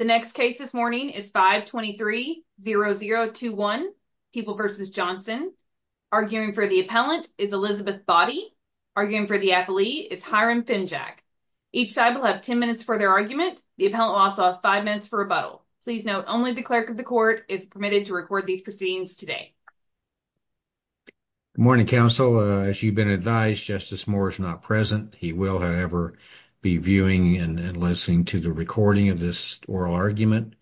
The next case this morning is 523-0021, People v. Johnson. Arguing for the appellant is Elizabeth Boddy. Arguing for the appellee is Hiram Finjack. Each side will have 10 minutes for their argument. The appellant will also have 5 minutes for rebuttal. Please note, only the clerk of the court is permitted to record these proceedings today. Good morning, counsel. As you've been advised, Justice Moore is not present. He will, however, be viewing and listening to the recording of this oral argument,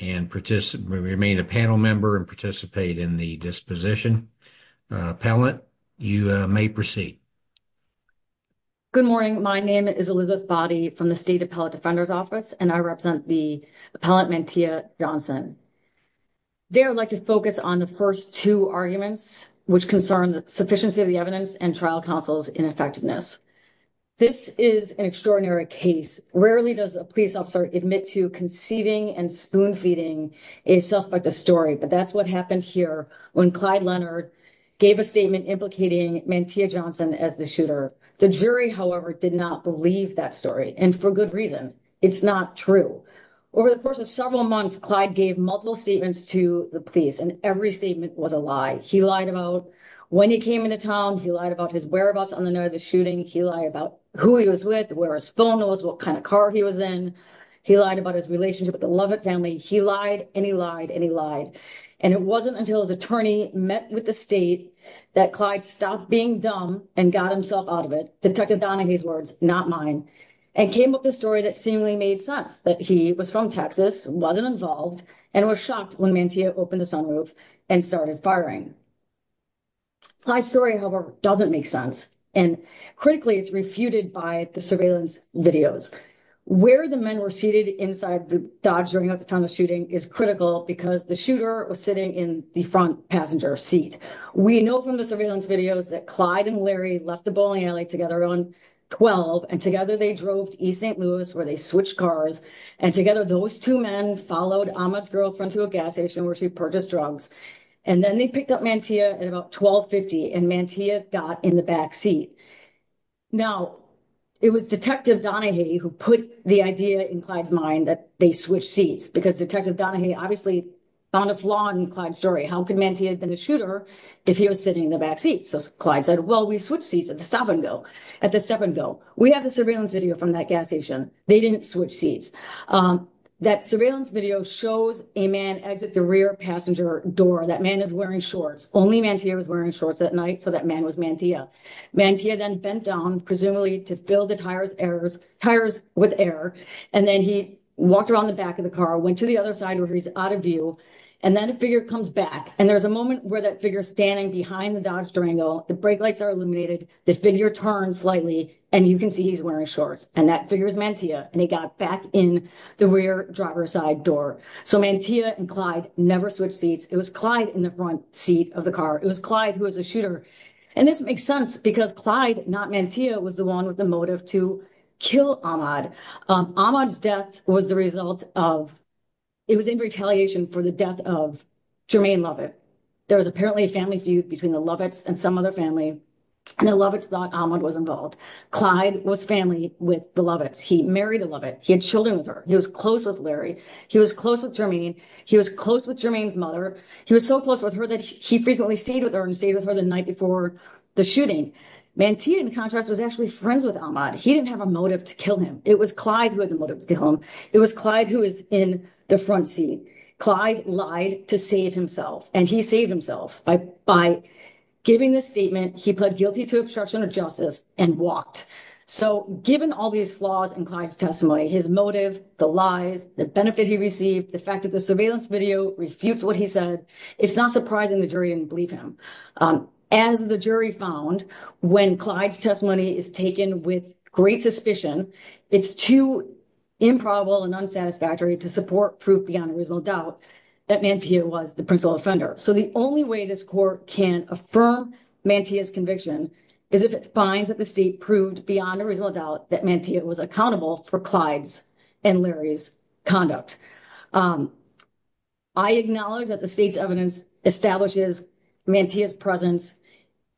and remain a panel member and participate in the disposition. Appellant, you may proceed. Good morning. My name is Elizabeth Boddy from the State Appellant Defender's Office, and I represent the appellant, Mantia Johnson. There, I'd like to focus on the first two arguments, which concern the sufficiency of the evidence and trial counsel's ineffectiveness. This is an extraordinary case. Rarely does a police officer admit to conceiving and spoon-feeding a suspect a story, but that's what happened here when Clyde Leonard gave a statement implicating Mantia Johnson as the shooter. The jury, however, did not believe that story, and for good reason. It's not true. Over the course of several months, Clyde gave multiple statements to the police, and every statement was a lie. He lied about when he came into town. He lied about his whereabouts on the night of the shooting. He lied about who he was with, where his phone was, what kind of car he was in. He lied about his relationship with the Lovett family. He lied, and he lied, and he lied. And it wasn't until his attorney met with the state that Clyde stopped being dumb and got himself out of it. Detective Donahue's words, not mine. And came up with a story that seemingly made sense, that he was from Texas, wasn't involved, and was shocked when Mantia opened the sunroof and started firing. Clyde's story, however, doesn't make sense. And critically, it's refuted by the surveillance videos. Where the men were seated inside the Dodge during the time of the shooting is critical because the shooter was sitting in the front passenger seat. We know from the surveillance videos that Clyde and Larry left the bowling alley together around 12, and together they drove to East St. Louis, where they switched cars. And together, those two men followed Ahmaud's girlfriend to a gas station, where she purchased drugs. And then they picked up Mantia at about 12.50, and Mantia got in the back seat. Now, it was Detective Donahue who put the idea in Clyde's mind that they switched seats. Because Detective Donahue obviously found a flaw in Clyde's story. How could Mantia have been a shooter if he was sitting in the back seat? So Clyde said, well, we switched seats at the stop and go, at the step and go. We have the surveillance video from that gas station. They didn't switch seats. That surveillance video shows a man exit the rear passenger door. That man is wearing shorts. Only Mantia was wearing shorts at night, so that man was Mantia. Mantia then bent down, presumably to fill the tires with air. And then he walked around the back of the car, went to the other side where he's out of view. And then a figure comes back. And there's a moment where that figure's standing behind the Dodge Durango. The brake lights are illuminated. The figure turns slightly, and you can see he's wearing shorts. And that figure is Mantia, and he got back in the rear driver's side door. So Mantia and Clyde never switched seats. It was Clyde in the front seat of the car. It was Clyde who was a shooter. And this makes sense because Clyde, not Mantia, was the one with the motive to kill Ahmad. Ahmad's death was the result of—it was in retaliation for the death of Jermaine Lovett. There was apparently a family feud between the Lovetts and some other family. And the Lovetts thought Ahmad was involved. Clyde was family with the Lovetts. He married a Lovett. He had children with her. He was close with Larry. He was close with Jermaine. He was close with Jermaine's mother. He was so close with her that he frequently stayed with her and stayed with her the night before the shooting. Mantia, in contrast, was actually friends with Ahmad. He didn't have a motive to kill him. It was Clyde who had the motive to kill him. It was Clyde who was in the front seat. Clyde lied to save himself. And he saved himself by giving this statement, he pled guilty to obstruction of justice and walked. So given all these flaws in Clyde's testimony, his motive, the lies, the benefit he received, the fact that the surveillance video refutes what he said, it's not surprising the jury didn't believe him. As the jury found, when Clyde's testimony is taken with great suspicion, it's too improbable and unsatisfactory to support proof beyond a reasonable doubt that Mantia was the principal offender. So the only way this court can affirm Mantia's conviction is if it finds that the state proved beyond a reasonable doubt that Mantia was accountable for Clyde's and Larry's conduct. I acknowledge that the state's evidence establishes Mantia's presence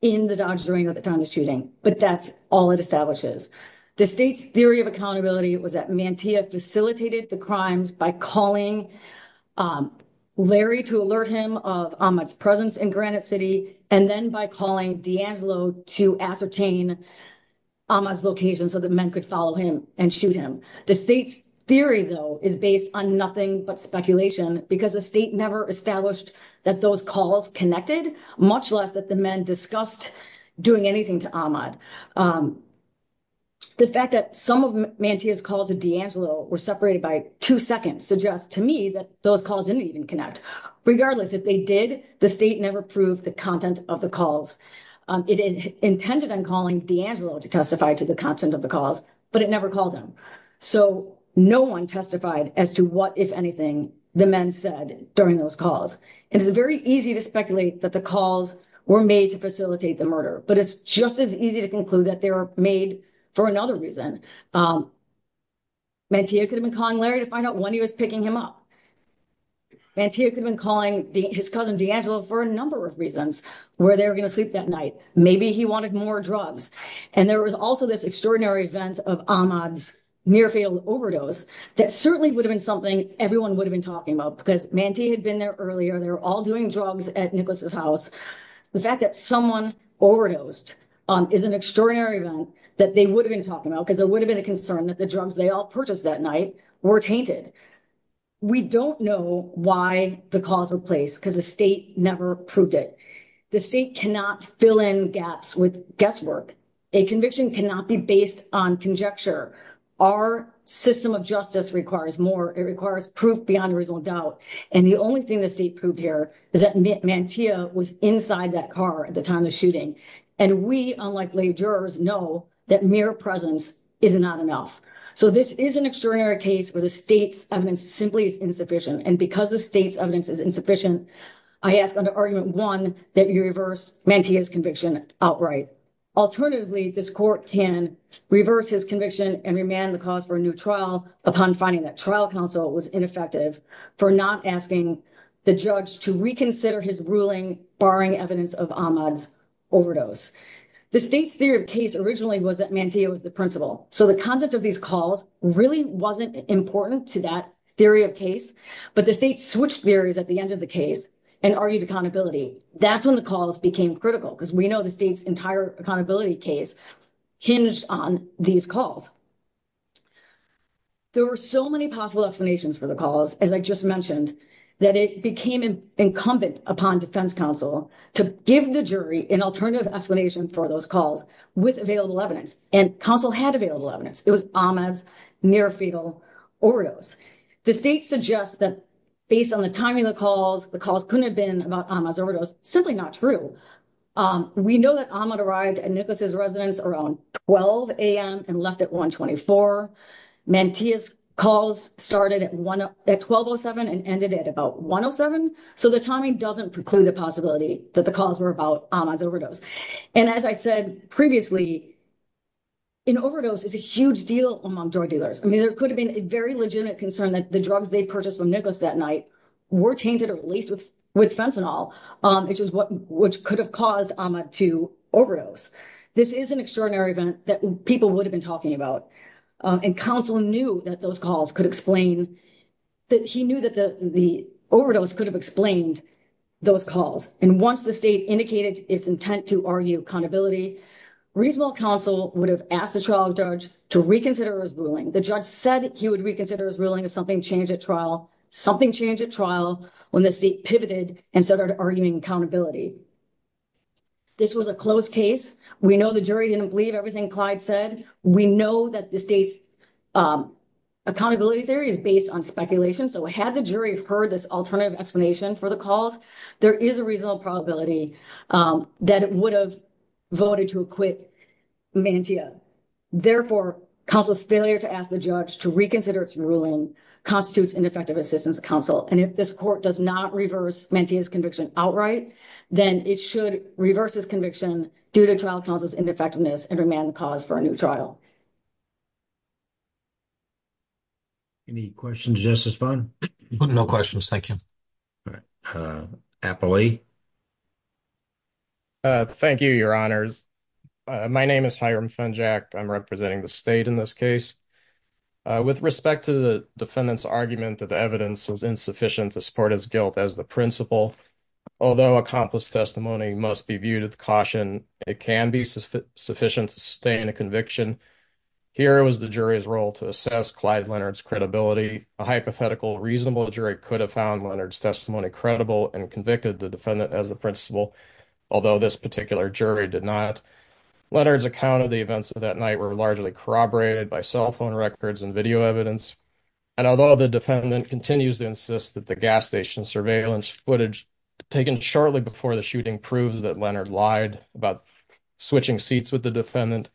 in the Dodgers arena at the time of the shooting, but that's all it establishes. The state's theory of accountability was that Mantia facilitated the crimes by calling Larry to alert him of Ahmad's presence in Granite City, and then by calling D'Angelo to ascertain Ahmad's location so that men could follow him and shoot him. The state's theory, though, is based on nothing but speculation because the state never established that those calls connected, much less that the men discussed doing anything to Ahmad. The fact that some of Mantia's calls to D'Angelo were separated by two seconds suggests that those calls didn't even connect. Regardless, if they did, the state never proved the content of the calls. It intended on calling D'Angelo to testify to the content of the calls, but it never called him. So no one testified as to what, if anything, the men said during those calls. It is very easy to speculate that the calls were made to facilitate the murder, but it's just as easy to conclude that they were made for another reason. Mantia could have been calling Larry to find out when he was picking him up. Mantia could have been calling his cousin D'Angelo for a number of reasons, where they were going to sleep that night. Maybe he wanted more drugs. And there was also this extraordinary event of Ahmad's near-fatal overdose that certainly would have been something everyone would have been talking about because Mantia had been there earlier. They were all doing drugs at Nicholas's house. The fact that someone overdosed is an extraordinary event that they would have been talking about because it would have been a concern that the drugs they all purchased that night were tainted. We don't know why the calls were placed because the state never proved it. The state cannot fill in gaps with guesswork. A conviction cannot be based on conjecture. Our system of justice requires more. It requires proof beyond reasonable doubt. And the only thing the state proved here is that Mantia was inside that car at the time of the shooting. And we, unlike lay jurors, know that mere presence is not enough. So this is an extraordinary case where the state's evidence simply is insufficient. And because the state's evidence is insufficient, I ask under Argument 1 that we reverse Mantia's conviction outright. Alternatively, this court can reverse his conviction and remand the cause for a new trial upon finding that trial counsel was ineffective for not asking the judge to reconsider his ruling barring evidence of Ahmad's overdose. The state's theory of case originally was that Mantia was the principal. So the content of these calls really wasn't important to that theory of case. But the state switched theories at the end of the case and argued accountability. That's when the calls became critical because we know the state's entire accountability case hinged on these calls. There were so many possible explanations for the calls, as I just mentioned, that it became incumbent upon defense counsel to give the jury an alternative explanation for those calls with available evidence. And counsel had available evidence. It was Ahmad's near-fetal overdose. The state suggests that based on the timing of the calls, the calls couldn't have been about Ahmad's overdose. Simply not true. We know that Ahmad arrived at Nicholas's residence around 12 a.m. and left at 1.24. Mantia's calls started at 12.07 and ended at about 1.07. So the timing doesn't preclude the possibility that the calls were about Ahmad's overdose. And as I said previously, an overdose is a huge deal among drug dealers. I mean, there could have been a very legitimate concern that the drugs they purchased from Nicholas that night were tainted or laced with fentanyl, which could have caused Ahmad to overdose. This is an extraordinary event that people would have been talking about. And counsel knew that those calls could explain—that he knew that the overdose could have explained those calls. And once the state indicated its intent to argue accountability, reasonable counsel would have asked the trial judge to reconsider his ruling. The judge said he would reconsider his ruling if something changed at trial. Something changed at trial when the state pivoted and started arguing accountability. This was a closed case. We know the jury didn't believe everything Clyde said. We know that the state's accountability theory is based on speculation. So had the jury heard this alternative explanation for the calls, there is a reasonable probability that it would have voted to acquit Mantia. Therefore, counsel's failure to ask the judge to reconsider its ruling constitutes ineffective assistance to counsel. And if this court does not reverse Mantia's conviction outright, then it should reverse his conviction due to trial counsel's ineffectiveness and remand the cause for a new trial. Any questions, Justice Fung? No questions. Thank you. Appley? Thank you, Your Honors. My name is Hiram Fungiak. I'm representing the state in this case. With respect to the defendant's argument that the evidence was insufficient to support his guilt as the principal, although accomplice testimony must be viewed as caution, it can be sufficient to sustain a conviction. Here was the jury's role to assess Clyde Leonard's credibility. A hypothetical reasonable jury could have found Leonard's testimony credible and convicted the defendant as the principal, although this particular jury did not. Leonard's account of the events of that night were largely corroborated by cell phone records and video evidence, and although the defendant continues to insist that the gas station surveillance footage taken shortly before the shooting proves that Leonard lied about switching seats with the defendant,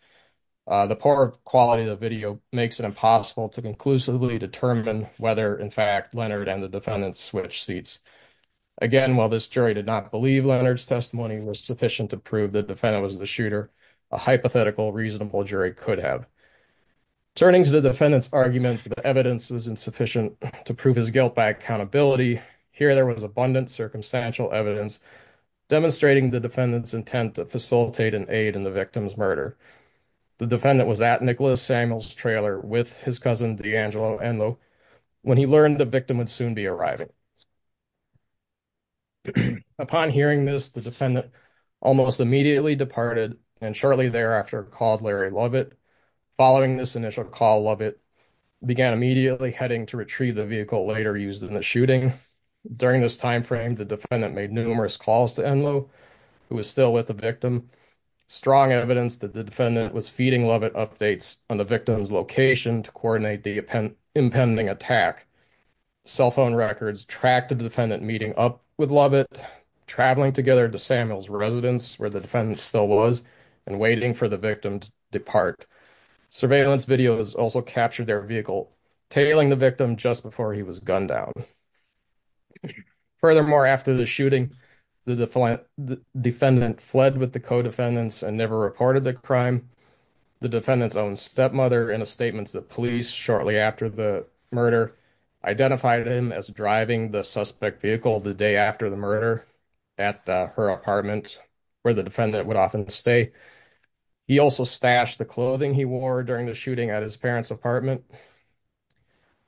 the poor quality of the video makes it impossible to conclusively determine whether, in fact, Leonard and the defendant switched seats. Again, while this jury did not believe Leonard's testimony was sufficient to prove the defendant was the shooter, a hypothetical reasonable jury could have. Turning to the defendant's argument that the evidence was insufficient to prove his guilt by accountability, here there was abundant circumstantial evidence demonstrating the defendant's intent to facilitate and aid in the victim's murder. The defendant was at Nicholas Samuel's trailer with his cousin D'Angelo Enloe when he learned the victim would soon be arriving. Upon hearing this, the defendant almost immediately departed and shortly thereafter called Larry Lovett. Following this initial call, Lovett began immediately heading to retrieve the vehicle later used in the shooting. During this time frame, the defendant made numerous calls to Enloe, who was still with the victim. Strong evidence that the defendant was feeding Lovett updates on the victim's location to coordinate the impending attack. Cell phone records tracked the defendant meeting up with Lovett, traveling together to Samuel's residence, where the defendant still was, and waiting for the victim to depart. Surveillance videos also captured their vehicle tailing the victim just before he was gunned down. Furthermore, after the shooting, the defendant fled with the co-defendants and never reported the crime. The defendant's own stepmother, in a statement to the police shortly after the murder, identified him as driving the suspect vehicle the day after the murder at her apartment. Where the defendant would often stay. He also stashed the clothing he wore during the shooting at his parents' apartment.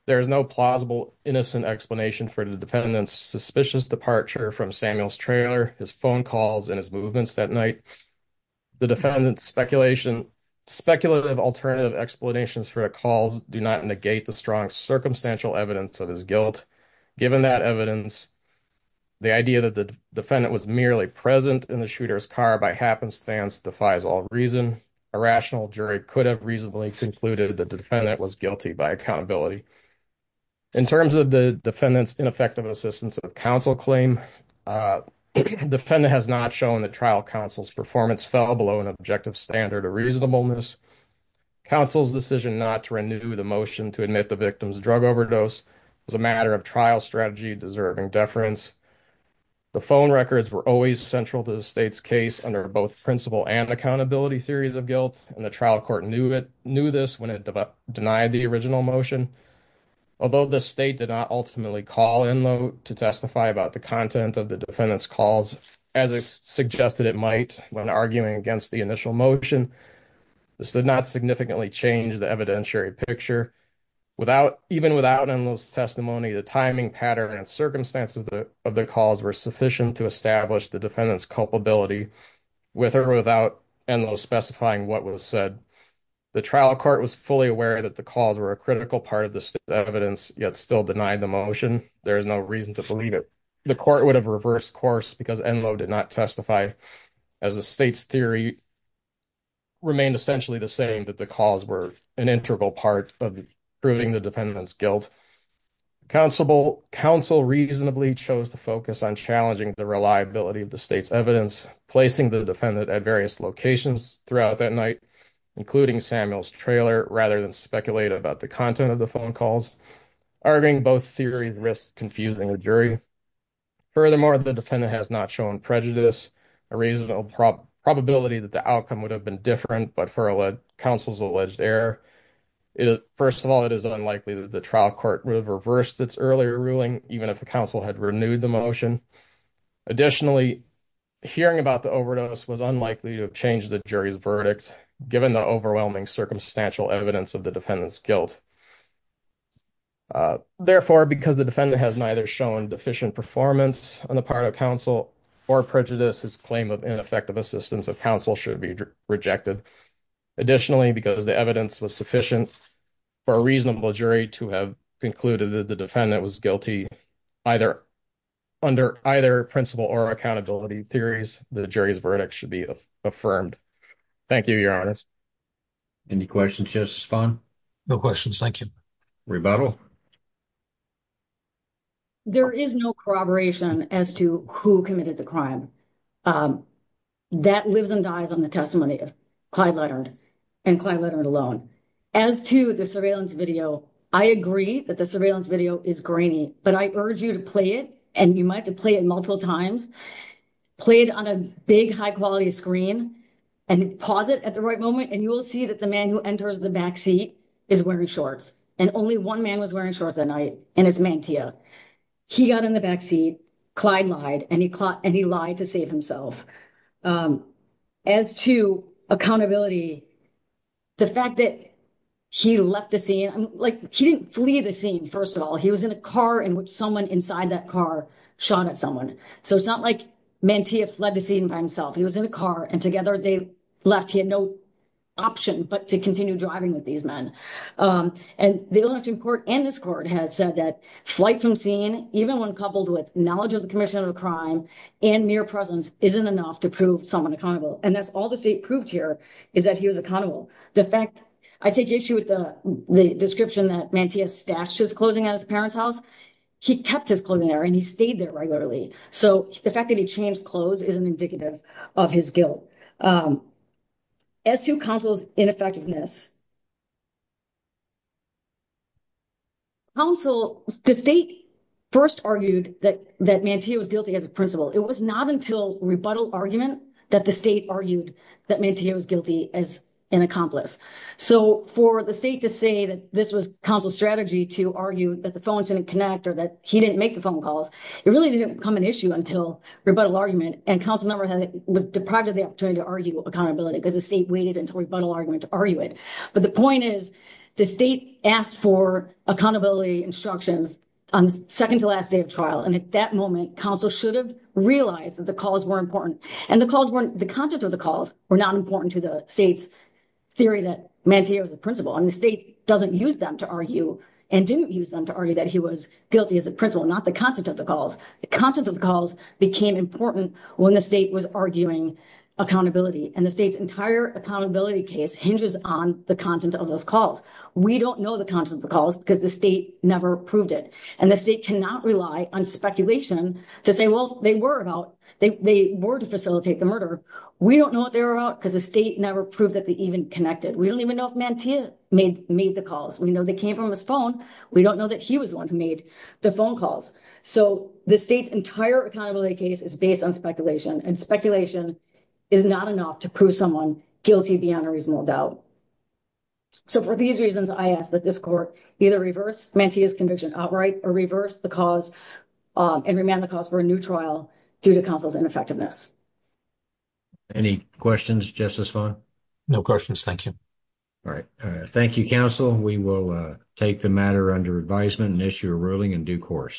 There is no plausible innocent explanation for the defendant's suspicious departure from Samuel's trailer, his phone calls, and his movements that night. The defendant's speculative alternative explanations for the calls do not negate the strong circumstantial evidence of his guilt. Given that evidence, the idea that the defendant was merely present in the shooter's car by happenstance defies all reason. A rational jury could have reasonably concluded that the defendant was guilty by accountability. In terms of the defendant's ineffective assistance of counsel claim, the defendant has not shown that trial counsel's performance fell below an objective standard of reasonableness. Counsel's decision not to renew the motion to admit the victim's drug overdose was a matter of trial strategy deserving deference. The phone records were always central to the state's case under both principle and accountability theories of guilt, and the trial court knew this when it denied the original motion. Although the state did not ultimately call Enloe to testify about the content of the defendant's calls as it suggested it might when arguing against the initial motion, this did not significantly change the evidentiary picture. Without, even without Enloe's testimony, the timing, pattern, and circumstances of the calls were sufficient to establish the defendant's culpability with or without Enloe specifying what was said. The trial court was fully aware that the calls were a critical part of the evidence, yet still denied the motion. There is no reason to believe it. The court would have reversed course because Enloe did not testify as the state's theory remained essentially the same, that the calls were an integral part of proving the defendant's guilt. Counsel reasonably chose to focus on challenging the reliability of the state's evidence, placing the defendant at various locations throughout that night, including Samuel's trailer, rather than speculate about the content of the phone calls, arguing both theory risks confusing the jury. Furthermore, the defendant has not shown prejudice, a reasonable probability that the outcome would have been different, but for counsel's alleged error, first of all, it is unlikely that the trial court would have reversed its earlier ruling, even if the counsel had renewed the motion. Additionally, hearing about the overdose was unlikely to change the jury's verdict, given the overwhelming circumstantial evidence of the defendant's guilt. Therefore, because the defendant has neither shown deficient performance on the part of counsel or prejudice, his claim of ineffective assistance of counsel should be rejected. Additionally, because the evidence was sufficient for a reasonable jury to have concluded that the defendant was guilty, either under either principle or accountability theories, the jury's verdict should be affirmed. Thank you, your honors. Any questions, Justice Fung? No questions. Thank you. Rebuttal. There is no corroboration as to who committed the crime. That lives and dies on the testimony of Clyde Leonard and Clyde Leonard alone. As to the surveillance video, I agree that the surveillance video is grainy, but I urge you to play it, and you might have to play it multiple times, play it on a big, high quality screen, and pause it at the right moment, and you will see that the man who enters the backseat is wearing shorts, and only one man was wearing shorts that night, and it's Mantia. He got in the backseat. Clyde lied, and he lied to save himself. As to accountability, the fact that he left the scene, like, he didn't flee the scene, first of all. He was in a car in which someone inside that car shot at someone. So it's not like Mantia fled the scene by himself. He was in a car, and together they left. He had no option but to continue driving with these men. And the Illinois Supreme Court and this court has said that flight from scene, even when coupled with knowledge of the commission of a crime and mere presence, isn't enough to prove someone accountable. And that's all the state proved here is that he was accountable. The fact, I take issue with the description that Mantia stashed his clothing at his parents' house. He kept his clothing there, and he stayed there regularly. So the fact that he changed clothes isn't indicative of his guilt. As to counsel's ineffectiveness, counsel, the state first argued that Mantia was guilty as a principal. It was not until rebuttal argument that the state argued that Mantia was guilty as an accomplice. So for the state to say that this was counsel's strategy to argue that the phone didn't connect or that he didn't make the phone calls, it really didn't become an issue until rebuttal argument. And counsel was deprived of the opportunity to argue accountability because the state waited until rebuttal argument to argue it. But the point is, the state asked for accountability instructions on the second to last day of And at that moment, counsel should have realized that the calls were important. And the calls weren't, the content of the calls were not important to the state's theory that Mantia was a principal. And the state doesn't use them to argue and didn't use them to argue that he was guilty as a principal, not the content of the calls. The content of the calls became important when the state was arguing accountability. And the state's entire accountability case hinges on the content of those calls. We don't know the content of the calls because the state never proved it. And the state cannot rely on speculation to say, well, they were about, they were to facilitate the murder. We don't know what they were about because the state never proved that they even connected. We don't even know if Mantia made the calls. We know they came from his phone. We don't know that he was the one who made the phone calls. So, the state's entire accountability case is based on speculation. And speculation is not enough to prove someone guilty beyond a reasonable doubt. So, for these reasons, I ask that this court either reverse Mantia's conviction outright or reverse the cause and remand the cause for a new trial due to counsel's ineffectiveness. Any questions, Justice Fung? No questions, thank you. All right. Thank you, counsel. We will take the matter under advisement and issue a ruling in due course.